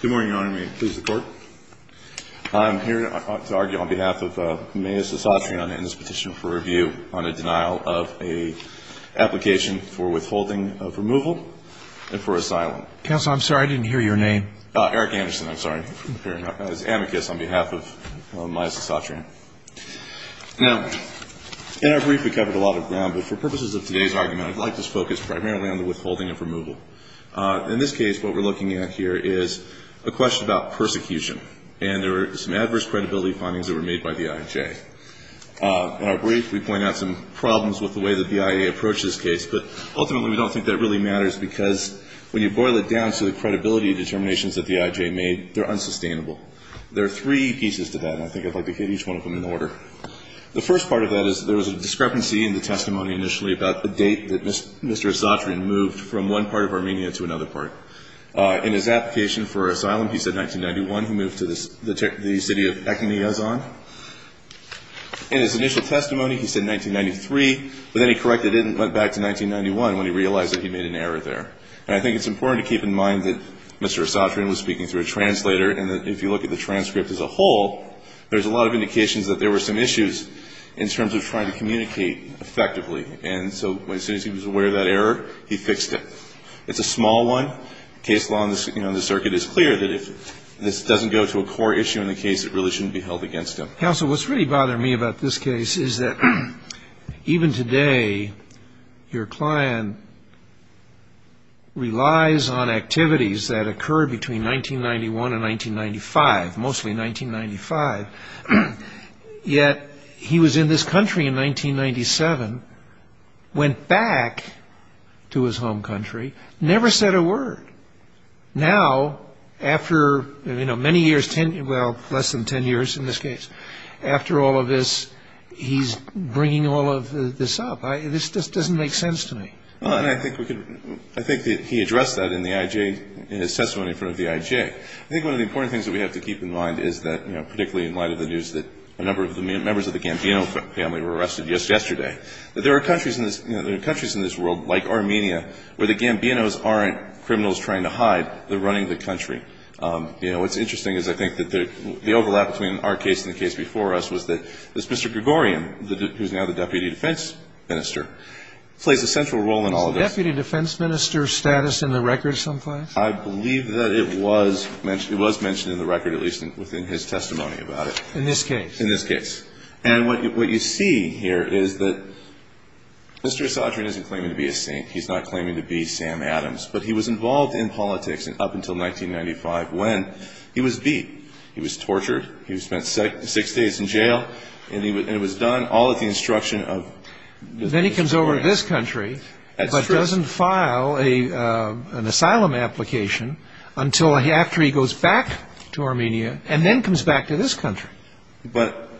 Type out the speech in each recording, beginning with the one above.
Good morning, Your Honor. May it please the Court. I'm here to argue on behalf of Myas Asatryan in this petition for review on a denial of an application for withholding of removal and for asylum. Counsel, I'm sorry, I didn't hear your name. Eric Anderson, I'm sorry, appearing as amicus on behalf of Myas Asatryan. Now, in our brief, we covered a lot of ground, but for purposes of today's argument, I'd like to focus primarily on the withholding of removal. In this case, what we're looking at here is a question about persecution, and there are some adverse credibility findings that were made by the IJ. In our brief, we point out some problems with the way the BIA approached this case, but ultimately, we don't think that really matters, because when you boil it down to the credibility determinations that the IJ made, they're unsustainable. There are three pieces to that, and I think I'd like to hit each one of them in order. The first part of that is there was a discrepancy in the testimony initially about the date that Mr. Asatryan moved from one part of Armenia to another part. In his application for asylum, he said 1991. He moved to the city of Ekamiazon. In his initial testimony, he said 1993, but then he corrected it and went back to 1991 when he realized that he made an error there. And I think it's important to keep in mind that Mr. Asatryan was speaking through a translator, and if you look at the transcript as a whole, there's a lot of indications that there were some issues in terms of trying to communicate effectively. And so as soon as he was aware of that error, he fixed it. It's a small one. Case law on the circuit is clear that if this doesn't go to a core issue in the case, it really shouldn't be held against him. Counsel, what's really bothering me about this case is that even today, your client relies on activities that occurred between 1991 and 1995, mostly 1995. Yet he was in this country in 1997, went back to his home country, never said a word. Now, after, you know, many years, well, less than 10 years in this case, after all of this, he's bringing all of this up. This just doesn't make sense to me. I think that he addressed that in the IJ, in his testimony in front of the IJ. I think one of the important things that we have to keep in mind is that, you know, particularly in light of the news that a number of the members of the Gambino family were arrested just yesterday, that there are countries in this world, like Armenia, where the Gambinos aren't criminals trying to hide. They're running the country. You know, what's interesting is I think that the overlap between our case and the case before us was that this Mr. Gregorian, who's now the deputy defense minister, plays a central role in all of this. Deputy defense minister status in the record someplace? I believe that it was mentioned in the record, at least within his testimony about it. In this case? In this case. And what you see here is that Mr. Esadrian isn't claiming to be a saint. He's not claiming to be Sam Adams. But he was involved in politics up until 1995, when he was beat. He was tortured. He spent six days in jail. And it was done all at the instruction of Mr. Esadrian. Then he comes over to this country. That's true. But doesn't file an asylum application until after he goes back to Armenia, and then comes back to this country. But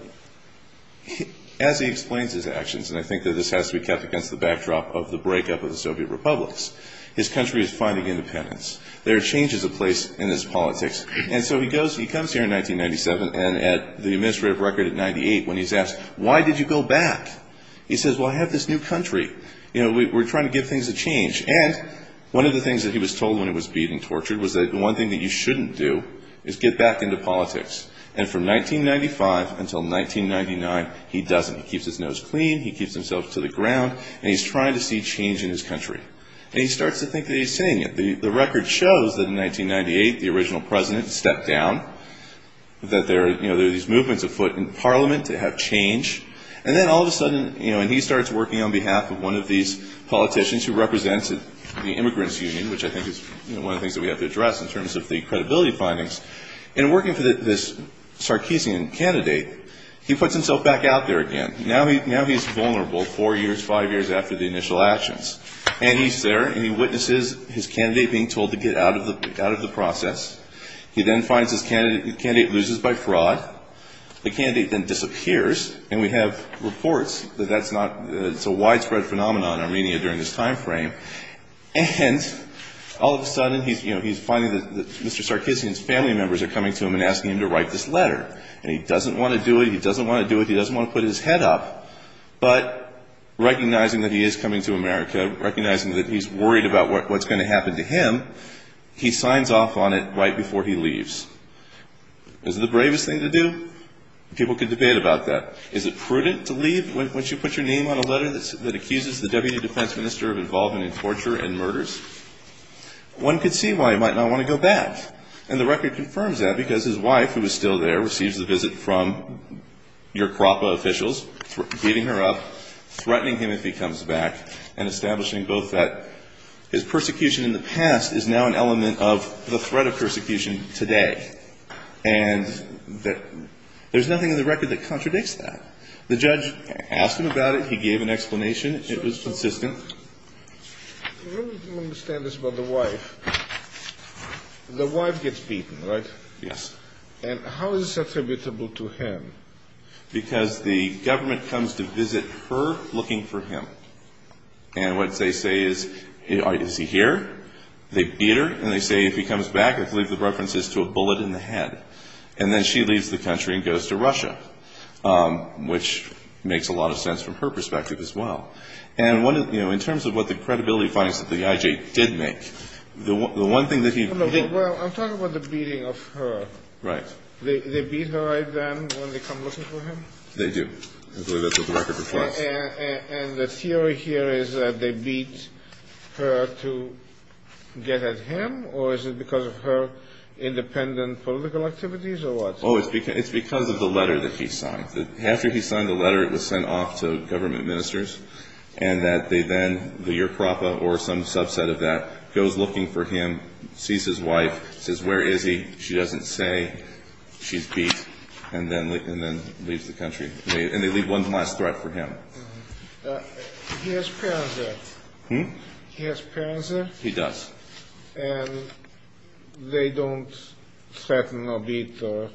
as he explains his actions, and I think that this has to be kept against the backdrop of the breakup of the Soviet republics, his country is finding independence. There are changes in place in this politics. And so he goes, he comes here in 1997, and at the administrative record at 98, when he's asked, why did you go back? He says, well, I have this new country. You know, we're trying to give things a change. And one of the things that he was told when he was beat and tortured was that the one thing that you shouldn't do is get back into politics. And from 1995 until 1999, he doesn't. He keeps his nose clean. He keeps himself to the ground. And he's trying to see change in his country. And he starts to think that he's seeing it. The record shows that in 1998, the original president stepped down, that there are these movements afoot in parliament to have change. And then all of a sudden, you know, and he starts working on behalf of one of these politicians who represents the immigrants union, which I think is one of the things that we have to address in terms of the credibility findings. And working for this Sarkisian candidate, he puts himself back out there again. Now he's vulnerable four years, five years after the initial actions. And he's there, and he witnesses his candidate being told to get out of the process. He then finds his candidate loses by fraud. The candidate then disappears, and we have reports that that's not – it's a widespread phenomenon in Armenia during this timeframe. And all of a sudden, he's, you know, he's finding that Mr. Sarkisian's family members are coming to him and asking him to write this letter. And he doesn't want to do it. He doesn't want to do it. He doesn't want to put his head up. But recognizing that he is coming to America, recognizing that he's worried about what's going to happen to him, he signs off on it right before he leaves. Is it the bravest thing to do? People could debate about that. Is it prudent to leave once you put your name on a letter that accuses the deputy defense minister of involvement in torture and murders? One could see why he might not want to go back. And the record confirms that because his wife, who is still there, receives the visit from your KRAPA officials, beating her up, threatening him if he comes back, and establishing both that his persecution in the past is now an element of the threat of persecution today. And there's nothing in the record that contradicts that. The judge asked him about it. He gave an explanation. It was consistent. I don't understand this about the wife. The wife gets beaten, right? Yes. And how is this attributable to him? Because the government comes to visit her looking for him. And what they say is, is he here? They beat her. And they say if he comes back, I believe the reference is to a bullet in the head. And then she leaves the country and goes to Russia, which makes a lot of sense from her perspective as well. And, you know, in terms of what the credibility finds that the IJ did make, the one thing that he didn't... Well, I'm talking about the beating of her. Right. They beat her then when they come looking for him? They do. I believe that's what the record reflects. And the theory here is that they beat her to get at him? Or is it because of her independent political activities or what? Oh, it's because of the letter that he signed. After he signed the letter, it was sent off to government ministers. And that they then, the Yerkrapa or some subset of that, goes looking for him, sees his wife, says, where is he? She doesn't say. She's beat. And then leaves the country. And they leave one last threat for him. He has parents there? Hmm? He has parents there? He does. And they don't threaten or beat or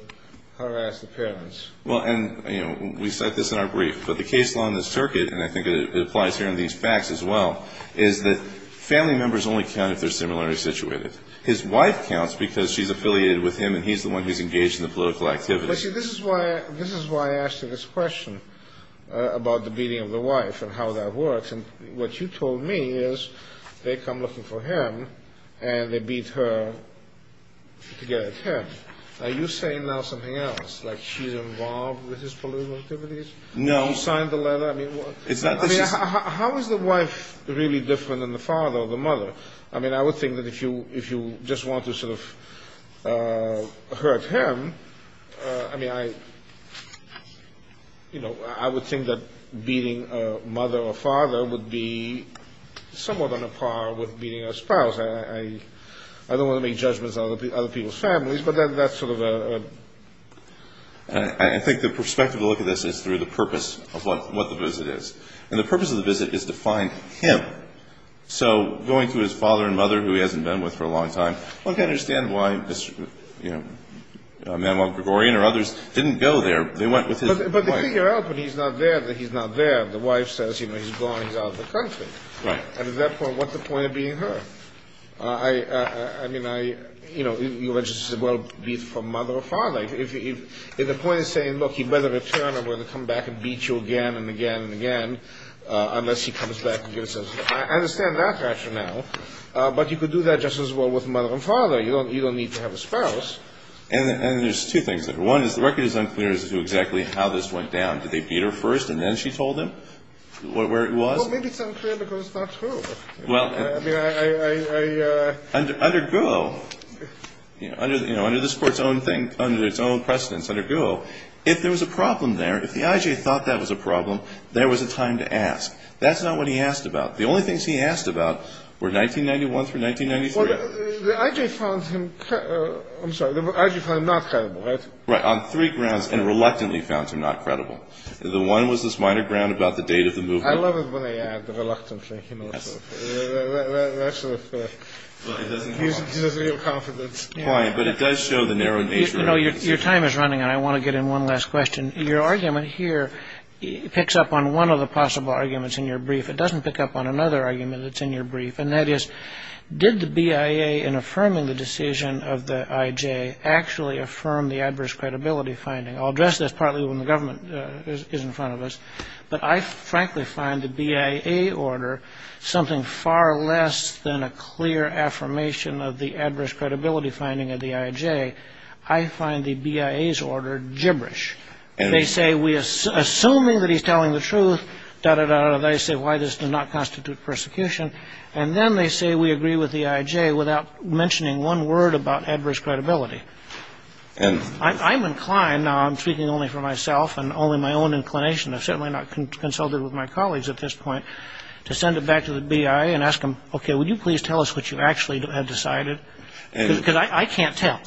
harass the parents? Well, and, you know, we cite this in our brief. But the case law in this circuit, and I think it applies here in these facts as well, is that family members only count if they're similarly situated. His wife counts because she's affiliated with him and he's the one who's engaged in the political activities. But, see, this is why I asked you this question about the beating of the wife and how that works. And what you told me is they come looking for him and they beat her to get at him. Are you saying now something else? Like she's involved with his political activities? No. You signed the letter? I mean, how is the wife really different than the father or the mother? I mean, I would think that if you just want to sort of hurt him, I mean, I, you know, I would think that beating a mother or father would be somewhat on a par with beating a spouse. I don't want to make judgments on other people's families, but that's sort of a ‑‑ I think the perspective to look at this is through the purpose of what the visit is. And the purpose of the visit is to find him. So going to his father and mother, who he hasn't been with for a long time, one can understand why, you know, Manuel Gregorian or others didn't go there. They went with his wife. But they figure out when he's not there that he's not there. The wife says, you know, he's gone, he's out of the country. Right. And at that point, what's the point of beating her? I mean, I, you know, you would just as well beat from mother or father. If the point is saying, look, he better return or we're going to come back and beat you again and again and again, unless he comes back and gives us ‑‑ I understand that rationale. But you could do that just as well with mother and father. You don't need to have a spouse. And there's two things. One is the record is unclear as to exactly how this went down. Did they beat her first and then she told him where it was? Well, maybe it's unclear because it's not true. Well, I mean, I ‑‑ Under GUO, you know, under this Court's own thing, under its own precedence, under GUO, if there was a problem there, if the IJ thought that was a problem, there was a time to ask. That's not what he asked about. The only things he asked about were 1991 through 1993. Well, the IJ found him ‑‑ I'm sorry, the IJ found him not credible, right? Right. On three grounds. And reluctantly found him not credible. The one was this minor ground about the date of the movement. I love it when they add reluctantly. Yes. That sort of gives us real confidence. Right. But it does show the narrow nature of the situation. You know, your time is running, and I want to get in one last question. Your argument here picks up on one of the possible arguments in your brief. It doesn't pick up on another argument that's in your brief. And that is, did the BIA, in affirming the decision of the IJ, actually affirm the adverse credibility finding? I'll address this partly when the government is in front of us. But I frankly find the BIA order something far less than a clear affirmation of the adverse credibility finding of the IJ. I find the BIA's order gibberish. They say, assuming that he's telling the truth, da-da-da-da, they say why this does not constitute persecution. And then they say we agree with the IJ without mentioning one word about adverse credibility. I'm inclined, now I'm speaking only for myself and only my own inclination, I've certainly not consulted with my colleagues at this point, to send it back to the BIA and ask them, okay, would you please tell us what you actually have decided? Because I can't tell.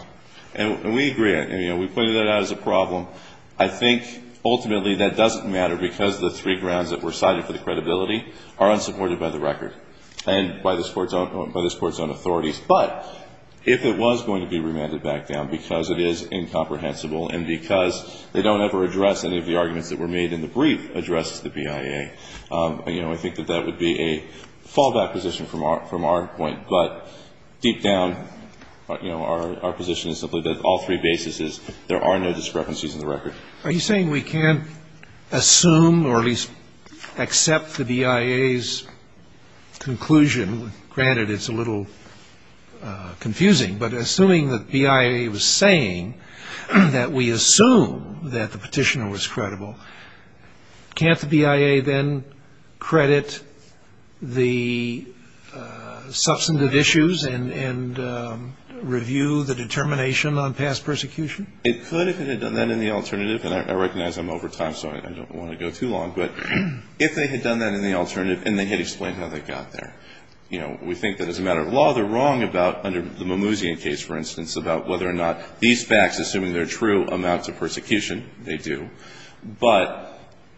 And we agree. We pointed that out as a problem. I think ultimately that doesn't matter because the three grounds that were cited for the credibility are unsupported by the record and by this Court's own authorities. But if it was going to be remanded back down because it is incomprehensible and because they don't ever address any of the arguments that were made in the brief addressed to the BIA, I think that that would be a fallback position from our point. But deep down, you know, our position is simply that all three bases is there are no discrepancies in the record. Are you saying we can't assume or at least accept the BIA's conclusion? Granted, it's a little confusing. But assuming that the BIA was saying that we assume that the petitioner was credible, can't the BIA then credit the substantive issues and review the determination on past persecution? It could if it had done that in the alternative. And I recognize I'm over time, so I don't want to go too long. But if they had done that in the alternative and they had explained how they got there. You know, we think that as a matter of law, they're wrong about under the Mimouzian case, for instance, about whether or not these facts, assuming they're true, amount to persecution. They do. But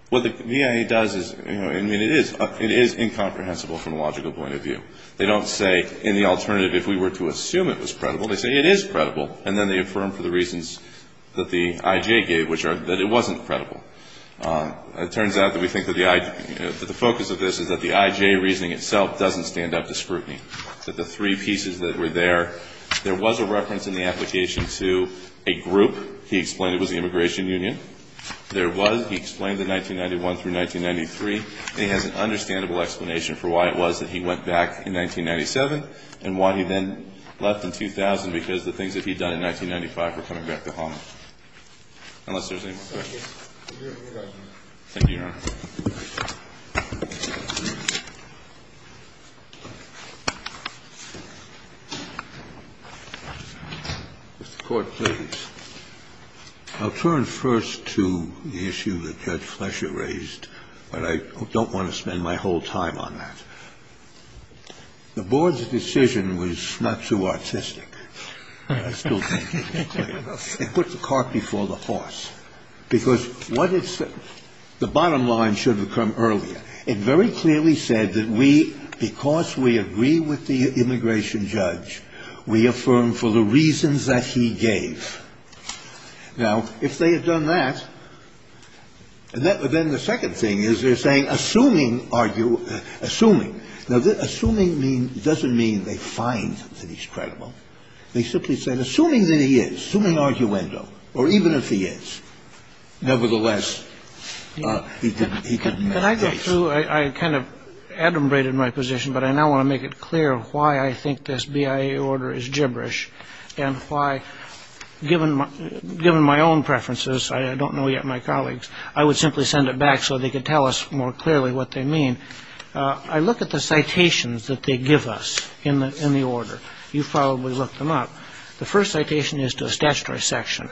what the BIA does is, you know, I mean, it is incomprehensible from a logical point of view. They don't say in the alternative if we were to assume it was credible. They say it is credible. And then they affirm for the reasons that the IJ gave, which are that it wasn't credible. It turns out that we think that the focus of this is that the IJ reasoning itself doesn't stand up to scrutiny. That the three pieces that were there, there was a reference in the application to a group. He explained it was the Immigration Union. There was. He explained the 1991 through 1993. And he has an understandable explanation for why it was that he went back in 1997 and why he then left in 2000 because the things that he'd done in 1995 were coming back to haunt him. Thank you, Your Honor. Mr. Court, please. I'll turn first to the issue that Judge Flesher raised, but I don't want to spend my whole time on that. The board's decision was not too artistic, I still think. It put the cart before the horse. Because what it said, the bottom line should have come earlier. It very clearly said that we, because we agree with the immigration judge, we affirm for the reasons that he gave. Now, if they had done that, then the second thing is they're saying assuming, assuming. Now, assuming doesn't mean they find that he's credible. They simply said assuming that he is, assuming arguendo, or even if he is, nevertheless, he can make a case. Can I go through? I kind of adumbrated my position, but I now want to make it clear why I think this BIA order is gibberish and why, given my own preferences, I don't know yet my colleagues, I would simply send it back so they could tell us more clearly what they mean. I look at the citations that they give us in the order. You've probably looked them up. The first citation is to a statutory section.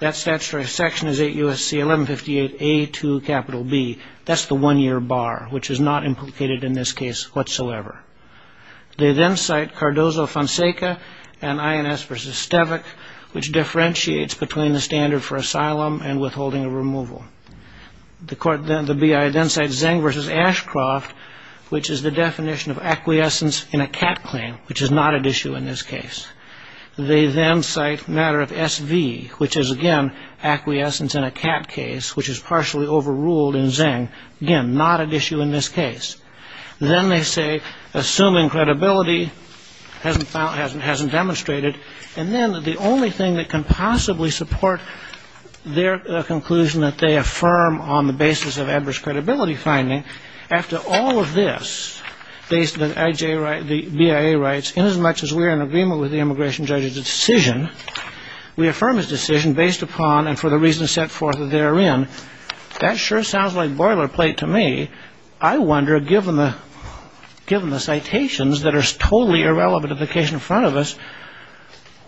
That statutory section is 8 U.S.C. 1158 A to capital B. That's the one-year bar, which is not implicated in this case whatsoever. They then cite Cardozo-Fonseca and INS v. Stevak, which differentiates between the standard for asylum and withholding of removal. The BIA then cites Zeng v. Ashcroft, which is the definition of acquiescence in a CAT claim, which is not at issue in this case. They then cite matter of SV, which is, again, acquiescence in a CAT case, which is partially overruled in Zeng, again, not at issue in this case. Then they say, assuming credibility, hasn't demonstrated, and then the only thing that can possibly support their conclusion that they affirm on the basis of adverse credibility finding, after all of this, based on the BIA rights, inasmuch as we are in agreement with the immigration judge's decision, we affirm his decision based upon and for the reasons set forth therein. That sure sounds like boilerplate to me. I wonder, given the citations that are totally irrelevant to the case in front of us,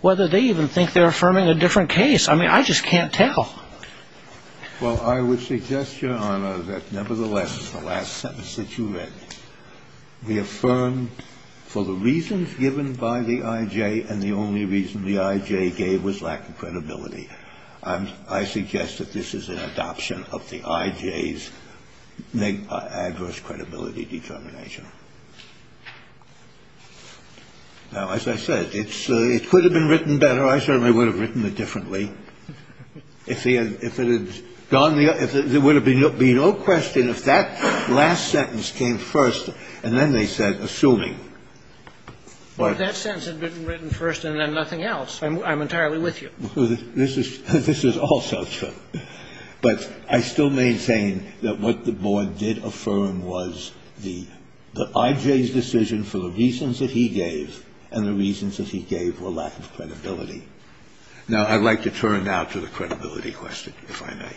whether they even think they're affirming a different case. I mean, I just can't tell. Well, I would suggest, Your Honor, that nevertheless, the last sentence that you read, we affirm for the reasons given by the I.J. and the only reason the I.J. gave was lack of credibility. I suggest that this is an adoption of the I.J.'s adverse credibility determination. Now, as I said, it could have been written better. I certainly would have written it differently. If it had gone the other way, there would be no question if that last sentence came first, and then they said, assuming. Well, if that sentence had been written first and then nothing else, I'm entirely with you. This is also true. But I still maintain that what the board did affirm was the I.J.'s decision for the reasons that he gave and the reasons that he gave were lack of credibility. Now, I'd like to turn now to the credibility question, if I may.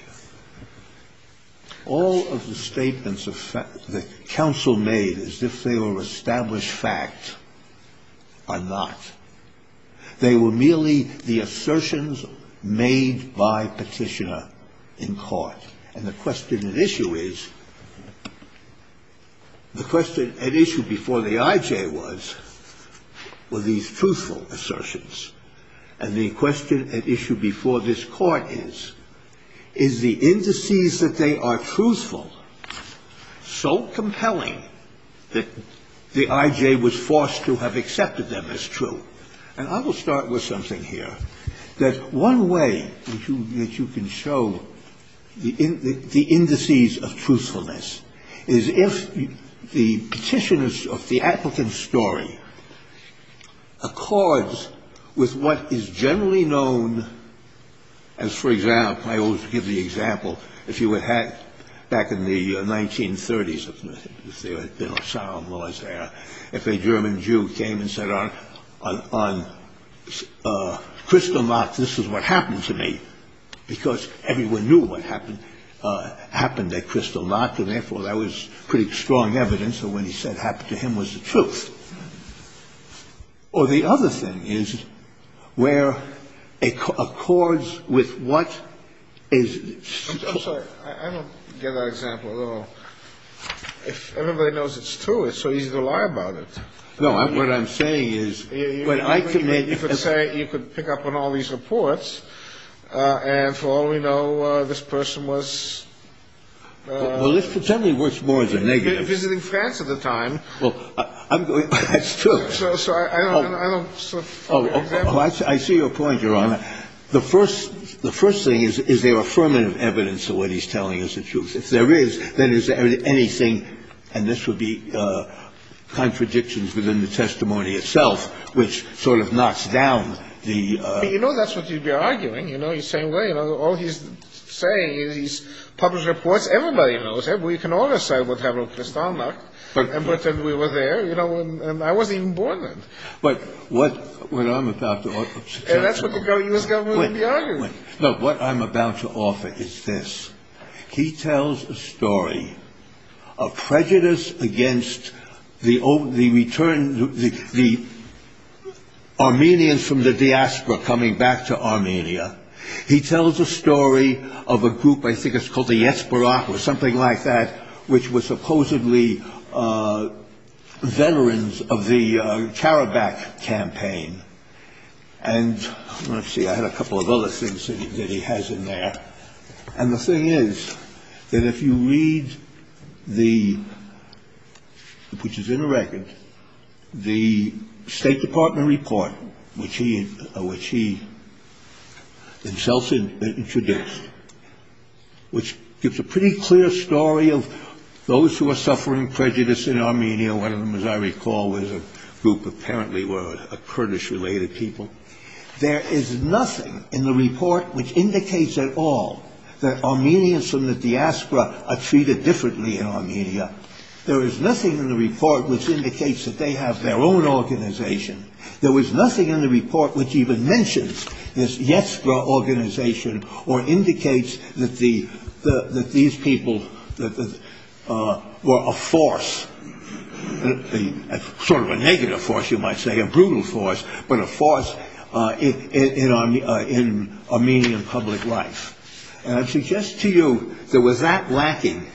All of the statements that counsel made as if they were established fact are not. They were merely the assertions made by Petitioner in court. And the question at issue is, the question at issue before the I.J. was, were these truthful assertions? And the question at issue before this Court is, is the indices that they are truthful so compelling that the I.J. was forced to have accepted them as true? And I will start with something here, that one way that you can show the indices of truthfulness is if the Petitioner's or the applicant's story accords with what is generally known as, for example, I always give the example, if you would have back in the 1930s, if there were solemn laws there, if a German Jew came and said on Kristallnacht, this is what happened to me, because everyone knew what happened at Kristallnacht, and therefore that was pretty strong evidence that what he said happened to him was the truth. Or the other thing is where it accords with what is... Well, I don't get that example at all. If everybody knows it's true, it's so easy to lie about it. No, what I'm saying is... You could say you could pick up on all these reports, and for all we know, this person was... Well, let's pretend he was more than negative. ...visiting France at the time. Well, I'm going... That's true. So I don't... Oh, I see your point, Your Honor. The first thing is, is there affirmative evidence of what he's telling is the truth? If there is, then is there anything, and this would be contradictions within the testimony itself, which sort of knocks down the... But you know that's what you'd be arguing. You know, you're saying, well, you know, all he's saying is he's published reports. Everybody knows it. We can all decide what happened at Kristallnacht. But... And we were there, you know, and I wasn't even born then. But what I'm about to suggest... And that's what the U.S. government would be arguing. Look, what I'm about to offer is this. He tells a story of prejudice against the return, the Armenians from the diaspora coming back to Armenia. He tells a story of a group, I think it's called the Yatsberak, or something like that, which was supposedly veterans of the Karabakh campaign. And let's see, I had a couple of other things that he has in there. And the thing is that if you read the, which is in a record, the State Department report, which he himself introduced, which gives a pretty clear story of those who are suffering prejudice in Armenia. One of them, as I recall, was a group apparently were Kurdish-related people. There is nothing in the report which indicates at all that Armenians from the diaspora are treated differently in Armenia. There is nothing in the report which indicates that they have their own organization. There was nothing in the report which even mentions this Yatsberak organization or indicates that these people were a force, sort of a negative force you might say, a brutal force, but a force in Armenian public life. And I suggest to you that with that lacking,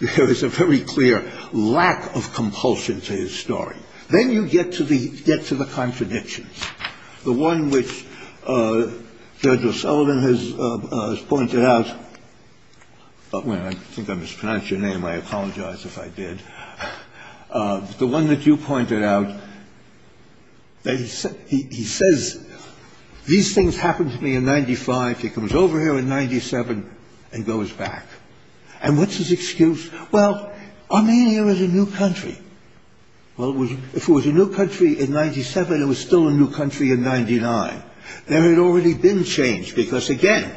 there is a very clear lack of compulsion to his story. Then you get to the contradictions. The one which Judge O'Sullivan has pointed out, well, I think I mispronounced your name. I apologize if I did. The one that you pointed out, he says, these things happened to me in 95. He comes over here in 97 and goes back. And what's his excuse? Well, Armenia is a new country. Well, if it was a new country in 97, it was still a new country in 99. There had already been change because, again,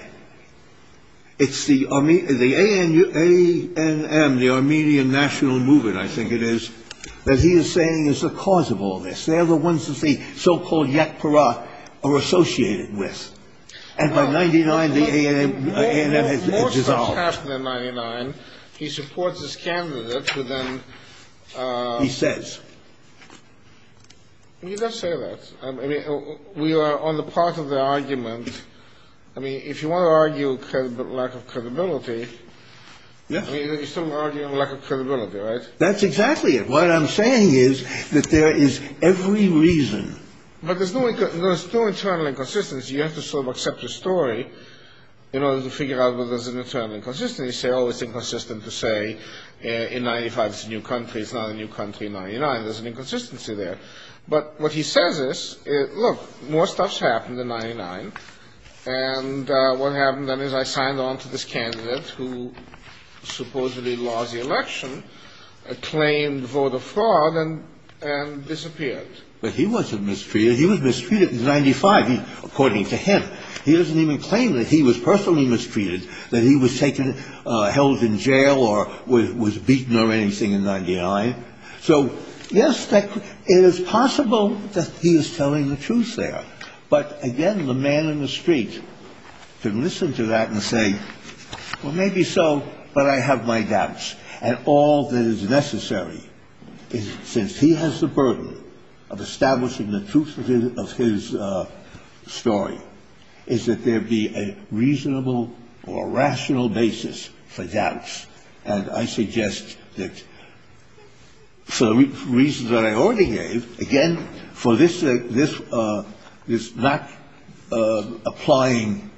it's the ANM, the Armenian National Movement, I think it is, that he is saying is the cause of all this. They are the ones that the so-called Yatsberak are associated with. And by 99, the ANM has dissolved. He supports his candidate who then. He says. He does say that. I mean, we are on the part of the argument. I mean, if you want to argue lack of credibility, you're still arguing lack of credibility, right? That's exactly it. What I'm saying is that there is every reason. But there's no internal inconsistency. You have to sort of accept the story in order to figure out whether there's an internal inconsistency. You say, oh, it's inconsistent to say in 95 it's a new country. It's not a new country in 99. There's an inconsistency there. But what he says is, look, more stuff's happened in 99. And what happened then is I signed on to this candidate who supposedly lost the election, claimed vote of fraud, and disappeared. But he wasn't mistreated. He was mistreated in 95. According to him. He doesn't even claim that he was personally mistreated, that he was taken held in jail or was beaten or anything in 99. So, yes, it is possible that he is telling the truth there. But, again, the man in the street can listen to that and say, well, maybe so, but I have my doubts. And all that is necessary, since he has the burden of establishing the truth of his story, is that there be a reasonable or rational basis for doubts. And I suggest that for the reasons that I already gave, again, for this not applying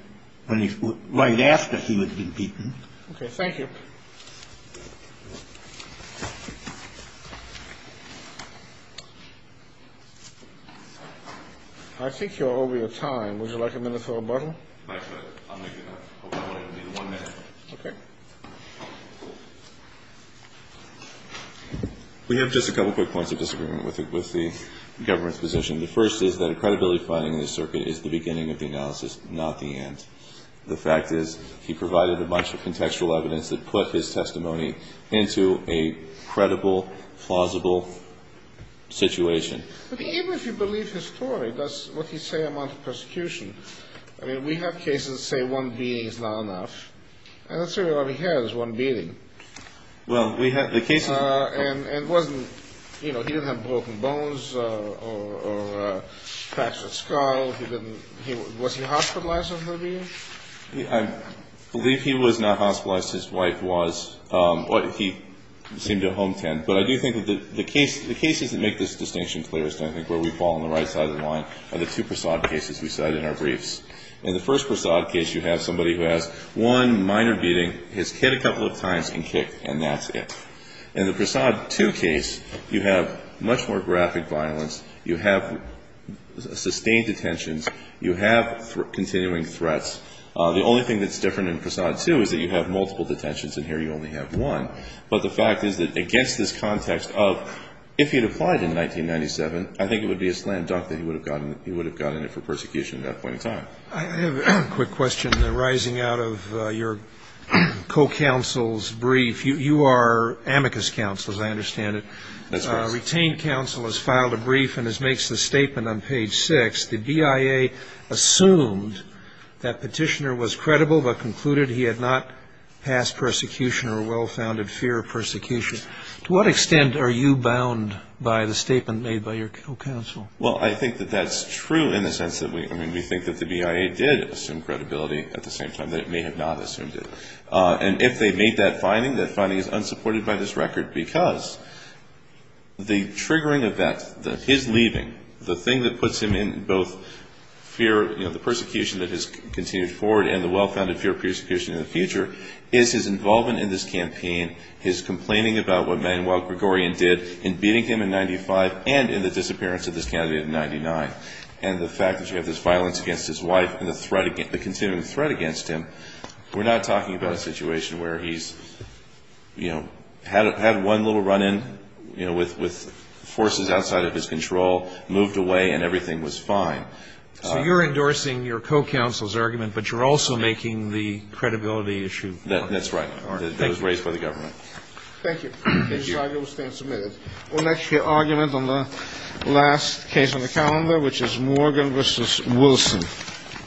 right after he would have been beaten. Okay. Thank you. I think you're over your time. Would you like a minute for rebuttal? I'll make it up. I hope I won't need one minute. Okay. We have just a couple quick points of disagreement with the government's position. The first is that a credibility finding in the circuit is the beginning of the analysis, not the end. The fact is, he provided a bunch of contextual evidence that put his testimony into a credible, plausible situation. Even if you believe his story, that's what he's saying about the persecution. I mean, we have cases that say one beating is not enough. And let's see what he has, one beating. Well, we have the cases. And wasn't, you know, he didn't have broken bones or fractured skull. Was he hospitalized on the beating? I believe he was not hospitalized. His wife was. He seemed to have a home tent. But I do think that the cases that make this distinction clearest, I think, where we fall on the right side of the line, are the two Prasad cases we cited in our briefs. In the first Prasad case, you have somebody who has one minor beating, has hit a couple of times and kicked, and that's it. In the Prasad 2 case, you have much more graphic violence. You have sustained detentions. You have continuing threats. The only thing that's different in Prasad 2 is that you have multiple detentions, and here you only have one. But the fact is that against this context of if he had applied in 1997, I think it would be a slam dunk that he would have gotten it for persecution at that point in time. I have a quick question arising out of your co-counsel's brief. You are amicus counsel, as I understand it. That's right. Retained counsel has filed a brief, and as makes the statement on page 6, the BIA assumed that petitioner was credible but concluded he had not passed persecution or well-founded fear of persecution. To what extent are you bound by the statement made by your co-counsel? Well, I think that that's true in the sense that we think that the BIA did assume credibility at the same time that it may have not assumed it. And if they made that finding, that finding is unsupported by this record because the triggering of that, his leaving, the thing that puts him in both fear of the persecution that has continued forward and the well-founded fear of persecution in the future is his involvement in this campaign, his complaining about what Manuel Gregorian did in beating him in 1995 and in the disappearance of this candidate in 1999. And the fact that you have this violence against his wife and the threat, the continuing threat against him, we're not talking about a situation where he's, you know, had one little run-in with forces outside of his control, moved away, and everything was fine. So you're endorsing your co-counsel's argument, but you're also making the credibility issue. That's right. That was raised by the government. Thank you. Thank you. This argument will stand submitted. Our next argument on the last case on the calendar, which is Morgan v. Wilson.